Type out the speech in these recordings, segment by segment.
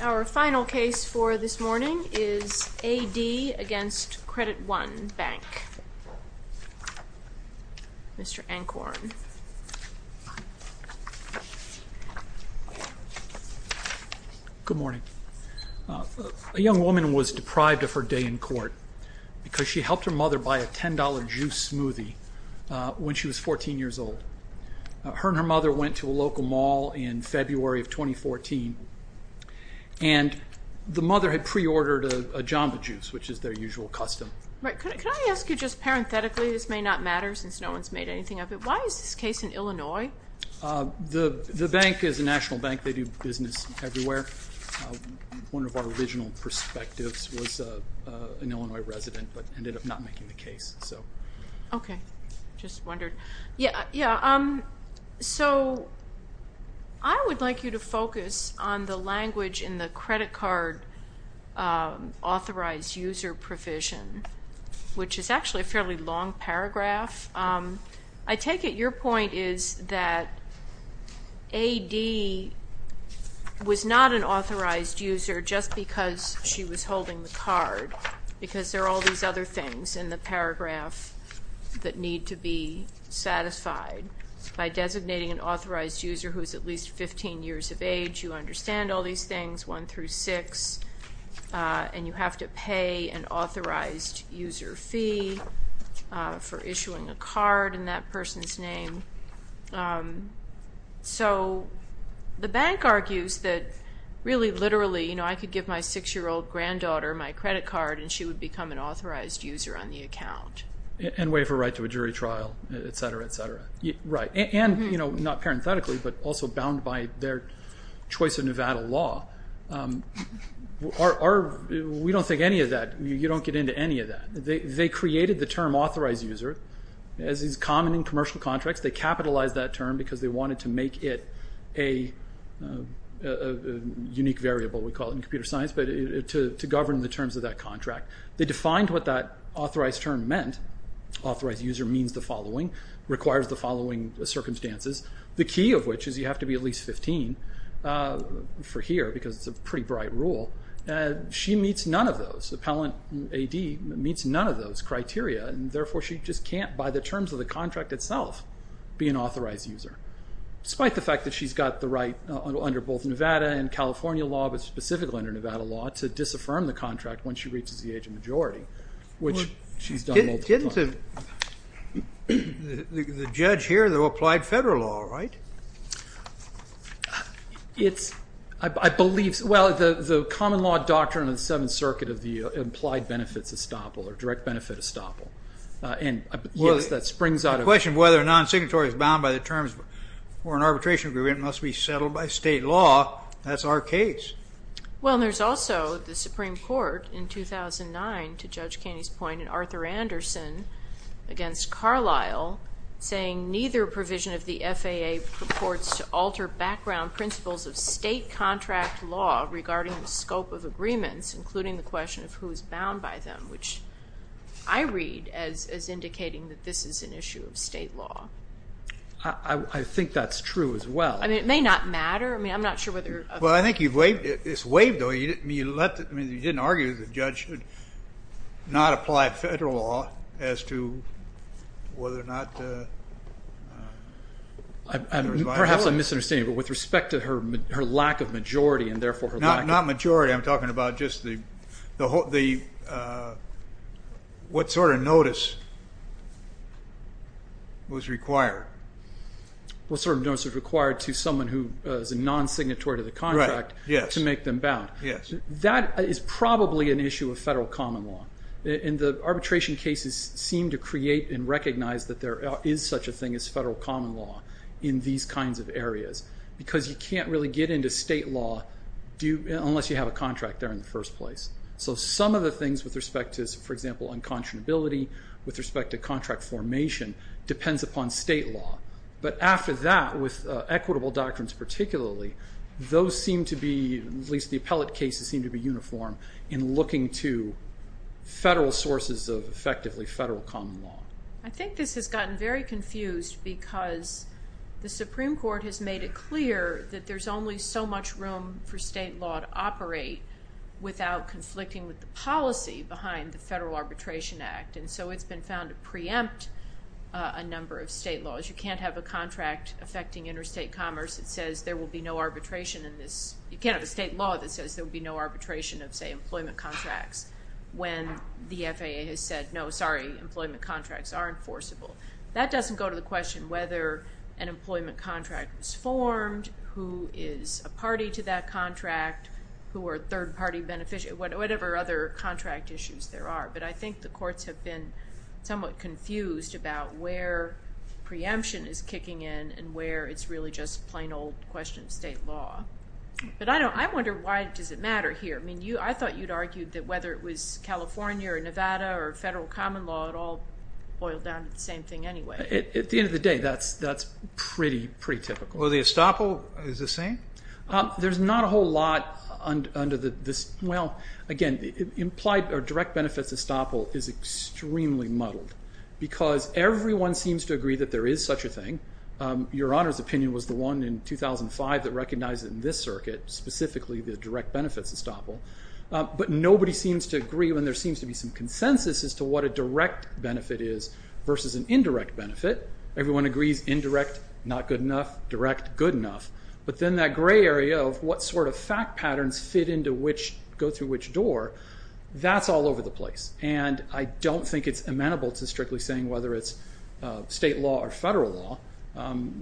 Our final case for this morning is A.D. v. Credit One Bank. Mr. Ancorn. Good morning. A young woman was deprived of her day in court because she helped her mother buy a $10 juice smoothie when she was 14 years old. Her and her mother went to a local mall in February of 2014, and the mother had pre-ordered a Jamba Juice, which is their usual custom. Right. Could I ask you just parenthetically, this may not matter since no one's made anything of it, why is this case in Illinois? The bank is a national bank. They do business everywhere. One of our original perspectives was an Illinois resident, but ended up not making the case. I would like you to focus on the language in the credit card authorized user provision, which is actually a fairly long paragraph. I take it your point is that A.D. was not an authorized user just because she was holding the card, because there are all these other things in the paragraph that need to be satisfied. By designating an authorized user who is at least 15 years of age, you understand all these things, one through six, and you have to pay an authorized user fee for issuing a card in that person's name. So the bank argues that really, literally, I could give my six-year-old granddaughter my credit card and she would become an authorized user on the account. And waive her right to a jury trial, et cetera, et cetera. Right. And not parenthetically, but also bound by their choice of Nevada law, we don't think any of that, you don't get into any of that. They created the term authorized user, as is common in commercial contracts, they capitalized that term because they wanted to make it a unique variable, we call it in computer science, but to govern the terms of that contract. They defined what that authorized term meant. Authorized user means the following, requires the following circumstances. The key of which is you have to be at least 15, for here, because it's a pretty bright rule. She meets none of those, Appellant A.D. meets none of those criteria, and therefore she just can't, by the terms of the contract itself, be an authorized user. Despite the fact that she's got the right under both Nevada and California law, but specifically under Nevada law, to disaffirm the contract when she reaches the age of majority, which she's done multiple times. Didn't the judge hear the applied federal law, right? It's, I believe, well, the common law doctrine of the Seventh Circuit of the implied benefits estoppel, or direct benefit estoppel. The question of whether a non-signatory is bound by the terms for an arbitration agreement must be settled by state law. That's our case. Well, there's also the Supreme Court, in 2009, to Judge Kenney's point, and Arthur Anderson against Carlisle, saying neither provision of the FAA purports to alter background principles of state contract law regarding the scope of agreements, including the question of who is bound by them, which I read as indicating that this is an issue of state law. I think that's true as well. I mean, it may not matter. I mean, I'm not sure whether... Well, I think it's waived, though. I mean, you didn't argue that the judge should not apply federal law as to whether or not... Perhaps I'm misunderstanding, but with respect to her lack of majority, and therefore her lack of... What sort of notice was required? What sort of notice was required to someone who is a non-signatory to the contract to make them bound? Yes. That is probably an issue of federal common law. And the arbitration cases seem to create and recognize that there is such a thing as federal common law in these kinds of areas, because you can't really get into state law unless you have a contract there in the first place. So some of the things with respect to, for example, unconscionability, with respect to contract formation, depends upon state law. But after that, with equitable doctrines particularly, those seem to be... At least the appellate cases seem to be uniform in looking to federal sources of effectively federal common law. I think this has gotten very confused because the Supreme Court has made it clear that there's only so much room for state law to operate without conflicting with the policy behind the Federal Arbitration Act. And so it's been found to preempt a number of state laws. You can't have a contract affecting interstate commerce that says there will be no arbitration in this. You can't have a state law that says there will be no arbitration of, say, employment contracts when the FAA has said, no, sorry, employment contracts are enforceable. That doesn't go to the question whether an employment contract was formed, who is a party to that contract, who are third-party beneficiaries, whatever other contract issues there are. But I think the courts have been somewhat confused about where preemption is kicking in and where it's really just plain old question of state law. But I wonder why does it matter here? I mean, I thought you'd argued that whether it was California or Nevada or federal common law, it all boiled down to the same thing anyway. At the end of the day, that's pretty typical. Well, the estoppel is the same? There's not a whole lot under this. Well, again, direct benefits estoppel is extremely muddled because everyone seems to agree that there is such a thing. Your Honor's opinion was the one in 2005 that recognized it in this circuit, specifically the direct benefits estoppel. But nobody seems to agree when there seems to be some consensus as to what a direct benefit is versus an indirect benefit. Everyone agrees indirect, not good enough, direct, good enough. But then that gray area of what sort of fact patterns go through which door, that's all over the place. And I don't think it's amenable to strictly saying whether it's state law or federal law.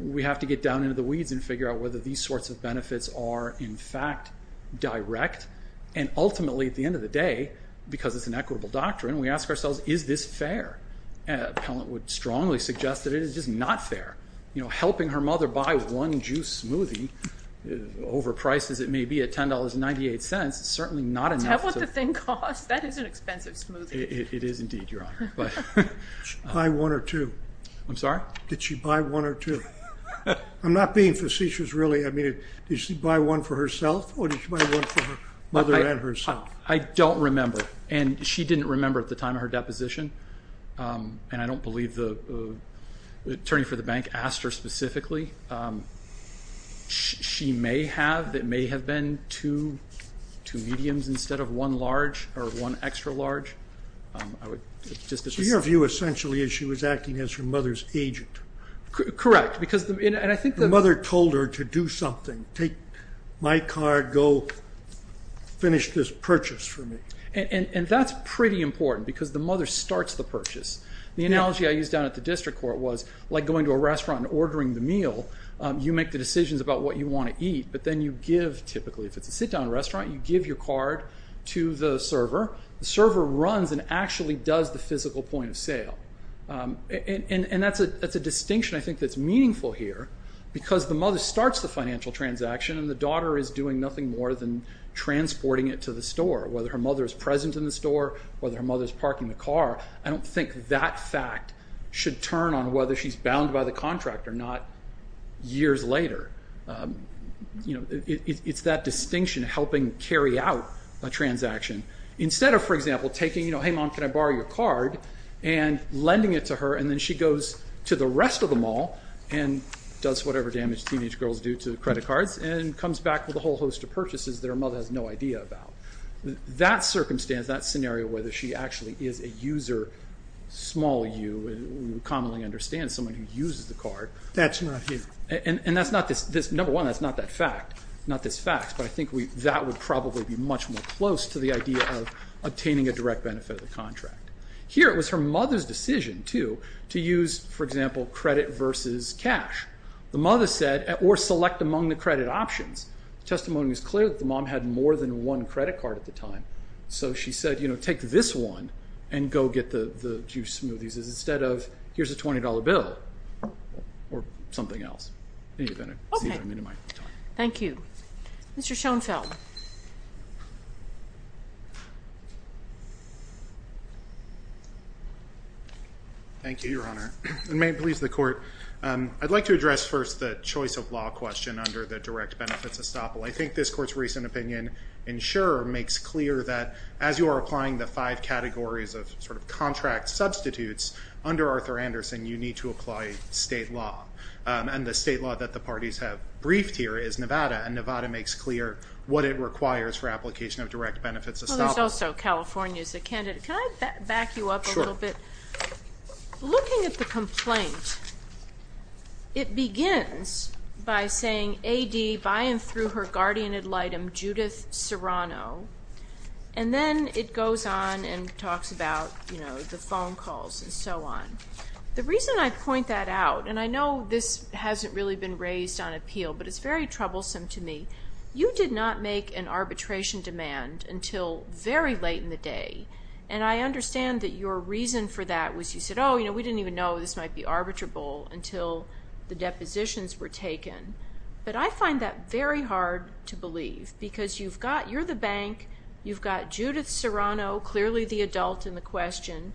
We have to get down into the weeds and figure out whether these sorts of benefits are, in fact, direct. And ultimately, at the end of the day, because it's an equitable doctrine, we ask ourselves, is this fair? Appellant would strongly suggest that it is just not fair. Helping her mother buy one juice smoothie, overpriced as it may be at $10.98, is certainly not enough. Is that what the thing costs? That is an expensive smoothie. It is indeed, Your Honor. Buy one or two. I'm sorry? Did she buy one or two? I'm not being facetious, really. Did she buy one for herself or did she buy one for her mother and herself? I don't remember. And she didn't remember at the time of her deposition. And I don't believe the attorney for the bank asked her specifically. She may have. It may have been two mediums instead of one large or one extra large. So your view essentially is she was acting as her mother's agent. Correct. The mother told her to do something, take my card, go finish this purchase for me. And that's pretty important because the mother starts the purchase. The analogy I used down at the district court was like going to a restaurant and ordering the meal. You make the decisions about what you want to eat, but then you give, typically, if it's a sit-down restaurant, you give your card to the server. The server runs and actually does the physical point of sale. And that's a distinction I think that's meaningful here because the mother starts the financial transaction and the daughter is doing nothing more than transporting it to the store, whether her mother is present in the store, whether her mother is parking the car. I don't think that fact should turn on whether she's bound by the contract or not years later. It's that distinction helping carry out a transaction. Instead of, for example, taking, hey mom, can I borrow your card and lending it to her and then she goes to the rest of the mall and does whatever damage teenage girls do to credit cards and comes back with a whole host of purchases that her mother has no idea about. That circumstance, that scenario, whether she actually is a user, small u, we commonly understand someone who uses the card. That's not you. And that's not this, number one, that's not this fact, but I think that would probably be much more close to the idea of obtaining a direct benefit of the contract. Here it was her mother's decision, too, to use, for example, credit versus cash. The mother said, or select among the credit options. The testimony was clear that the mom had more than one credit card at the time. So she said, you know, take this one and go get the juice smoothies instead of here's a $20 bill or something else. Okay. Thank you. Mr. Schoenfeld. Thank you, Your Honor, and may it please the Court. I'd like to address first the choice of law question under the direct benefits estoppel. I think this Court's recent opinion in Shurer makes clear that as you are applying the five categories of sort of under Arthur Anderson, you need to apply state law. And the state law that the parties have briefed here is Nevada, and Nevada makes clear what it requires for application of direct benefits estoppel. Well, there's also California as a candidate. Can I back you up a little bit? Sure. Looking at the complaint, it begins by saying, A.D., by and through her guardian ad litem, Judith Serrano. And then it goes on and talks about, you know, the phone calls. And so on. The reason I point that out, and I know this hasn't really been raised on appeal, but it's very troublesome to me. You did not make an arbitration demand until very late in the day, and I understand that your reason for that was you said, oh, you know, we didn't even know this might be arbitrable until the depositions were taken. But I find that very hard to believe because you've got you're the bank, you've got Judith Serrano, clearly the adult in the question.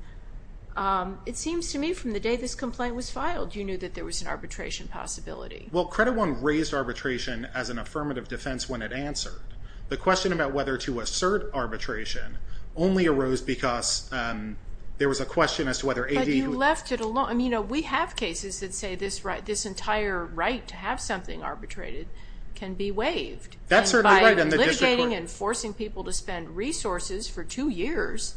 It seems to me from the day this complaint was filed, you knew that there was an arbitration possibility. Well, Credit One raised arbitration as an affirmative defense when it answered. The question about whether to assert arbitration only arose because there was a question as to whether A.D. But you left it alone. You know, we have cases that say this entire right to have something arbitrated can be waived. That's certainly right in the district court. But having and forcing people to spend resources for two years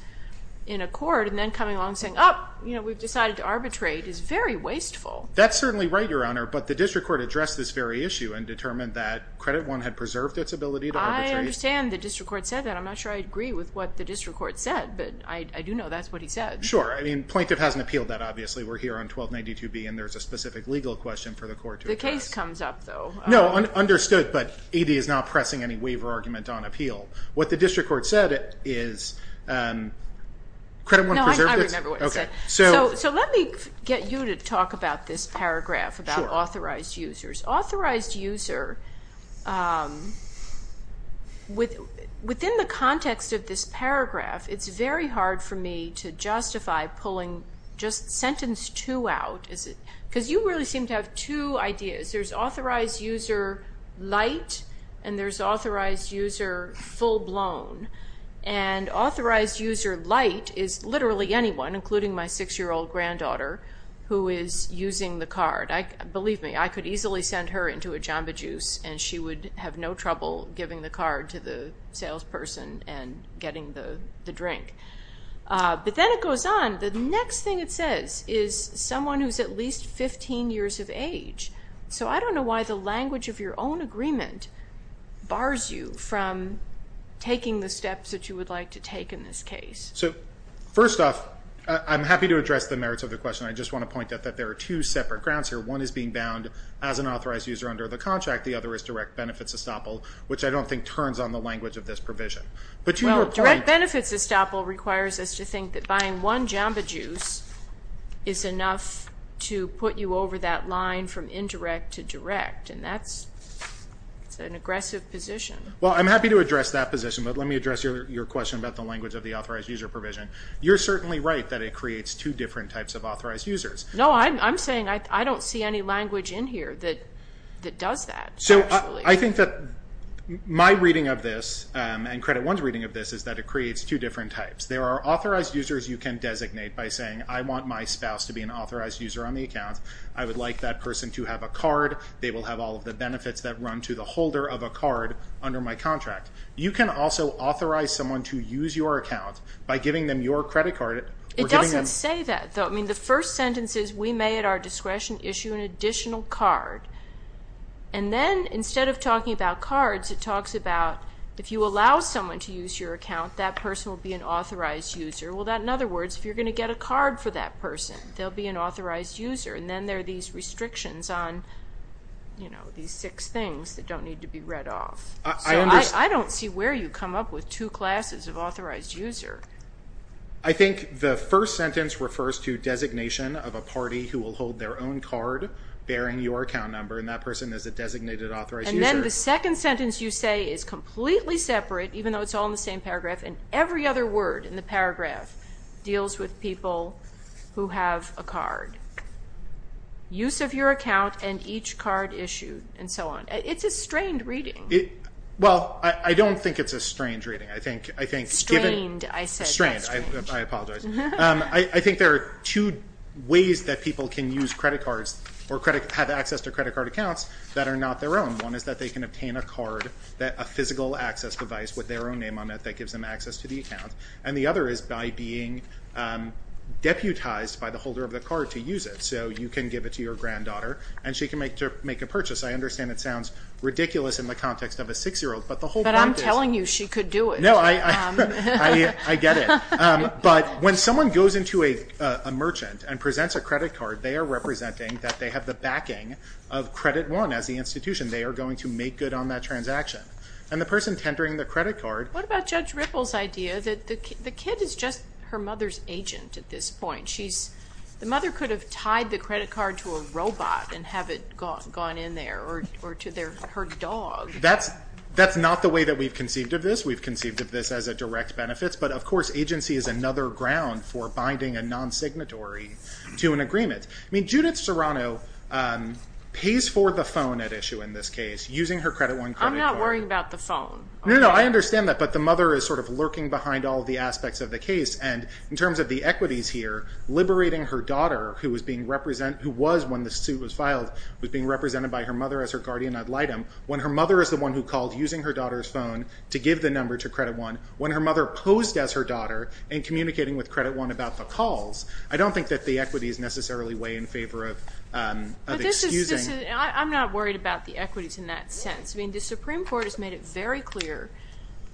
in a court and then coming along and saying, oh, you know, we've decided to arbitrate is very wasteful. That's certainly right, Your Honor, but the district court addressed this very issue and determined that Credit One had preserved its ability to arbitrate. I understand the district court said that. I'm not sure I agree with what the district court said, but I do know that's what he said. Sure. I mean, plaintiff hasn't appealed that, obviously. We're here on 1292B, and there's a specific legal question for the court to address. The case comes up, though. No, understood, but A.D. is not pressing any waiver argument on appeal. What the district court said is Credit One preserved its- No, I remember what it said. Okay. So let me get you to talk about this paragraph about authorized users. Sure. Authorized user, within the context of this paragraph, it's very hard for me to justify pulling just sentence two out. Because you really seem to have two ideas. There's authorized user light, and there's authorized user full-blown. And authorized user light is literally anyone, including my 6-year-old granddaughter, who is using the card. Believe me, I could easily send her into a Jamba Juice, and she would have no trouble giving the card to the salesperson and getting the drink. But then it goes on. The next thing it says is someone who's at least 15 years of age. So I don't know why the language of your own agreement bars you from taking the steps that you would like to take in this case. So first off, I'm happy to address the merits of the question. I just want to point out that there are two separate grounds here. One is being bound as an authorized user under the contract. The other is direct benefits estoppel, which I don't think turns on the language of this provision. Direct benefits estoppel requires us to think that buying one Jamba Juice is enough to put you over that line from indirect to direct. And that's an aggressive position. Well, I'm happy to address that position, but let me address your question about the language of the authorized user provision. You're certainly right that it creates two different types of authorized users. No, I'm saying I don't see any language in here that does that, actually. I think that my reading of this and Credit One's reading of this is that it creates two different types. There are authorized users you can designate by saying I want my spouse to be an authorized user on the account. I would like that person to have a card. They will have all of the benefits that run to the holder of a card under my contract. You can also authorize someone to use your account by giving them your credit card. It doesn't say that, though. I mean, the first sentence is we may at our discretion issue an additional card. And then instead of talking about cards, it talks about if you allow someone to use your account, that person will be an authorized user. Well, in other words, if you're going to get a card for that person, they'll be an authorized user. And then there are these restrictions on these six things that don't need to be read off. So I don't see where you come up with two classes of authorized user. I think the first sentence refers to designation of a party who will hold their own card bearing your account number, and that person is a designated authorized user. And then the second sentence you say is completely separate, even though it's all in the same paragraph, and every other word in the paragraph deals with people who have a card. Use of your account and each card issued and so on. It's a strained reading. Well, I don't think it's a strained reading. Strained, I said. Strained. I apologize. I think there are two ways that people can use credit cards or have access to credit card accounts that are not their own. One is that they can obtain a card, a physical access device with their own name on it that gives them access to the account, and the other is by being deputized by the holder of the card to use it. So you can give it to your granddaughter, and she can make a purchase. I understand it sounds ridiculous in the context of a six-year-old, but the whole point is. She could do it. No, I get it. But when someone goes into a merchant and presents a credit card, they are representing that they have the backing of Credit One as the institution. They are going to make good on that transaction. And the person tendering the credit card. What about Judge Ripple's idea that the kid is just her mother's agent at this point? The mother could have tied the credit card to a robot and have it gone in there or to her dog. That's not the way that we've conceived of this. We've conceived of this as a direct benefit, but, of course, agency is another ground for binding a non-signatory to an agreement. Judith Serrano pays for the phone at issue in this case using her Credit One credit card. I'm not worrying about the phone. No, no, I understand that, but the mother is sort of lurking behind all the aspects of the case. And in terms of the equities here, liberating her daughter, who was, when the suit was filed, was being represented by her mother as her guardian ad litem. When her mother is the one who called using her daughter's phone to give the number to Credit One, when her mother posed as her daughter in communicating with Credit One about the calls, I don't think that the equities necessarily weigh in favor of excusing. I'm not worried about the equities in that sense. I mean, the Supreme Court has made it very clear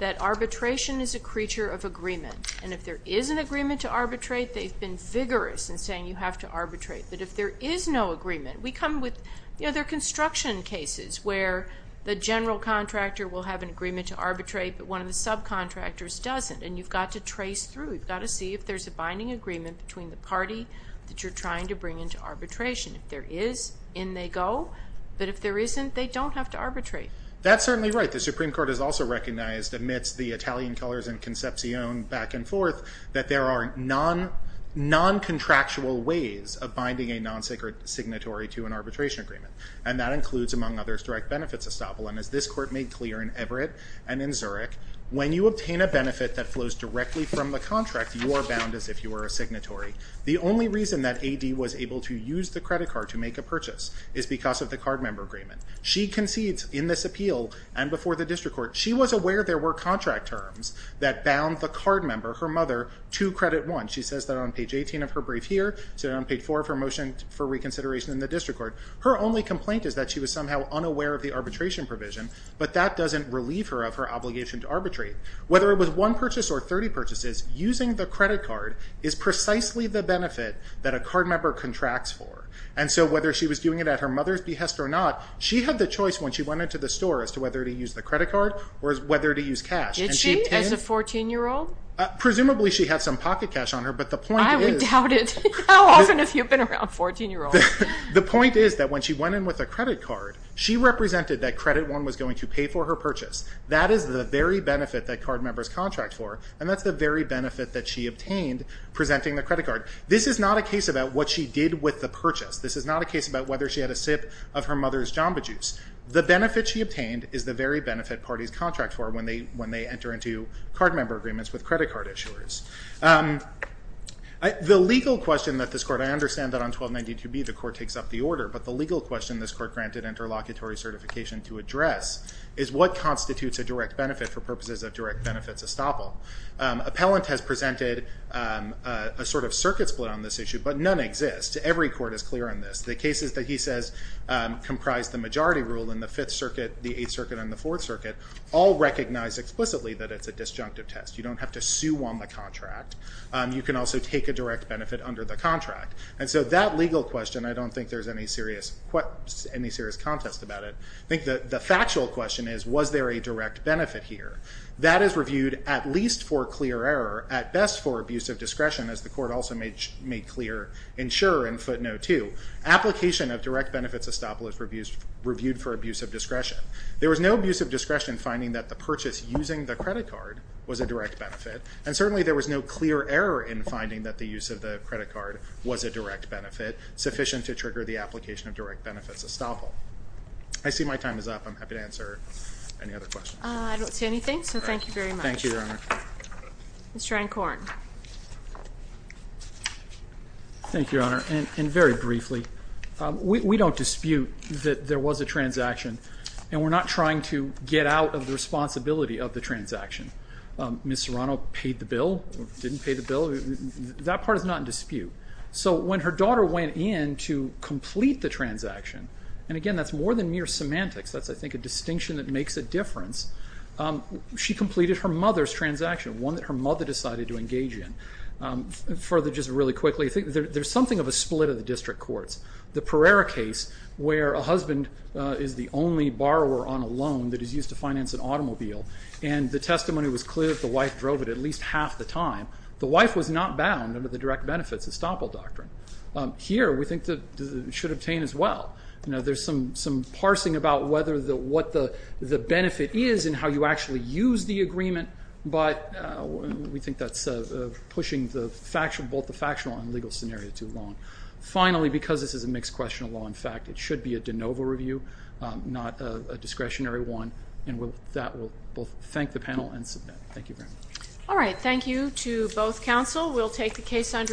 that arbitration is a creature of agreement. And if there is an agreement to arbitrate, they've been vigorous in saying you have to arbitrate. But if there is no agreement, we come with, you know, there are construction cases where the general contractor will have an agreement to arbitrate, but one of the subcontractors doesn't. And you've got to trace through. You've got to see if there's a binding agreement between the party that you're trying to bring into arbitration. If there is, in they go. But if there isn't, they don't have to arbitrate. That's certainly right. The Supreme Court has also recognized, amidst the Italian colors and concepcion back and forth, that there are non-contractual ways of binding a non-sacred signatory to an arbitration agreement. And that includes, among others, direct benefits estoppel. And as this Court made clear in Everett and in Zurich, when you obtain a benefit that flows directly from the contract, you are bound as if you were a signatory. The only reason that A.D. was able to use the credit card to make a purchase is because of the card member agreement. She concedes in this appeal and before the district court, she was aware there were contract terms that bound the card member, her mother, to credit one. She says that on page 18 of her brief here, and on page four of her motion for reconsideration in the district court, her only complaint is that she was somehow unaware of the arbitration provision. But that doesn't relieve her of her obligation to arbitrate. Whether it was one purchase or 30 purchases, using the credit card is precisely the benefit that a card member contracts for. And so whether she was doing it at her mother's behest or not, she had the choice when she went into the store as to whether to use the credit card or whether to use cash. Did she, as a 14-year-old? Presumably she had some pocket cash on her, but the point is... I would doubt it. How often have you been around 14-year-olds? The point is that when she went in with a credit card, she represented that credit one was going to pay for her purchase. That is the very benefit that card members contract for, and that's the very benefit that she obtained presenting the credit card. This is not a case about what she did with the purchase. This is not a case about whether she had a sip of her mother's jamba juice. The benefit she obtained is the very benefit parties contract for when they enter into card member agreements with credit card issuers. The legal question that this court... I understand that on 1292b the court takes up the order, but the legal question this court granted interlocutory certification to address is what constitutes a direct benefit for purposes of direct benefits estoppel. Appellant has presented a sort of circuit split on this issue, but none exist. Every court is clear on this. The cases that he says comprise the majority rule in the Fifth Circuit, the Eighth Circuit, and the Fourth Circuit all recognize explicitly that it's a disjunctive test. You don't have to sue on the contract. You can also take a direct benefit under the contract. And so that legal question, I don't think there's any serious contest about it. I think the factual question is, was there a direct benefit here? That is reviewed at least for clear error, at best for abuse of discretion, as the court also made clear in Schur in footnote 2. Application of direct benefits estoppel is reviewed for abuse of discretion. There was no abuse of discretion finding that the purchase using the credit card was a direct benefit, and certainly there was no clear error in finding that the use of the credit card was a direct benefit sufficient to trigger the application of direct benefits estoppel. I see my time is up. I'm happy to answer any other questions. Thank you, Your Honor. Mr. Ancorn. Thank you, Your Honor, and very briefly, we don't dispute that there was a transaction, and we're not trying to get out of the responsibility of the transaction. Ms. Serrano paid the bill or didn't pay the bill. That part is not in dispute. So when her daughter went in to complete the transaction, and again, that's more than mere semantics. That's, I think, a distinction that makes a difference. She completed her mother's transaction, one that her mother decided to engage in. Further, just really quickly, there's something of a split of the district courts. The Pereira case, where a husband is the only borrower on a loan that is used to finance an automobile, and the testimony was clear that the wife drove it at least half the time, the wife was not bound under the direct benefits estoppel doctrine. Here, we think that it should obtain as well. There's some parsing about what the benefit is and how you actually use the agreement, but we think that's pushing both the factional and legal scenario too long. Finally, because this is a mixed-question law, in fact, it should be a de novo review, not a discretionary one, and with that, we'll thank the panel and submit. Thank you very much. All right. Thank you to both counsel. We'll take the case under adjustment.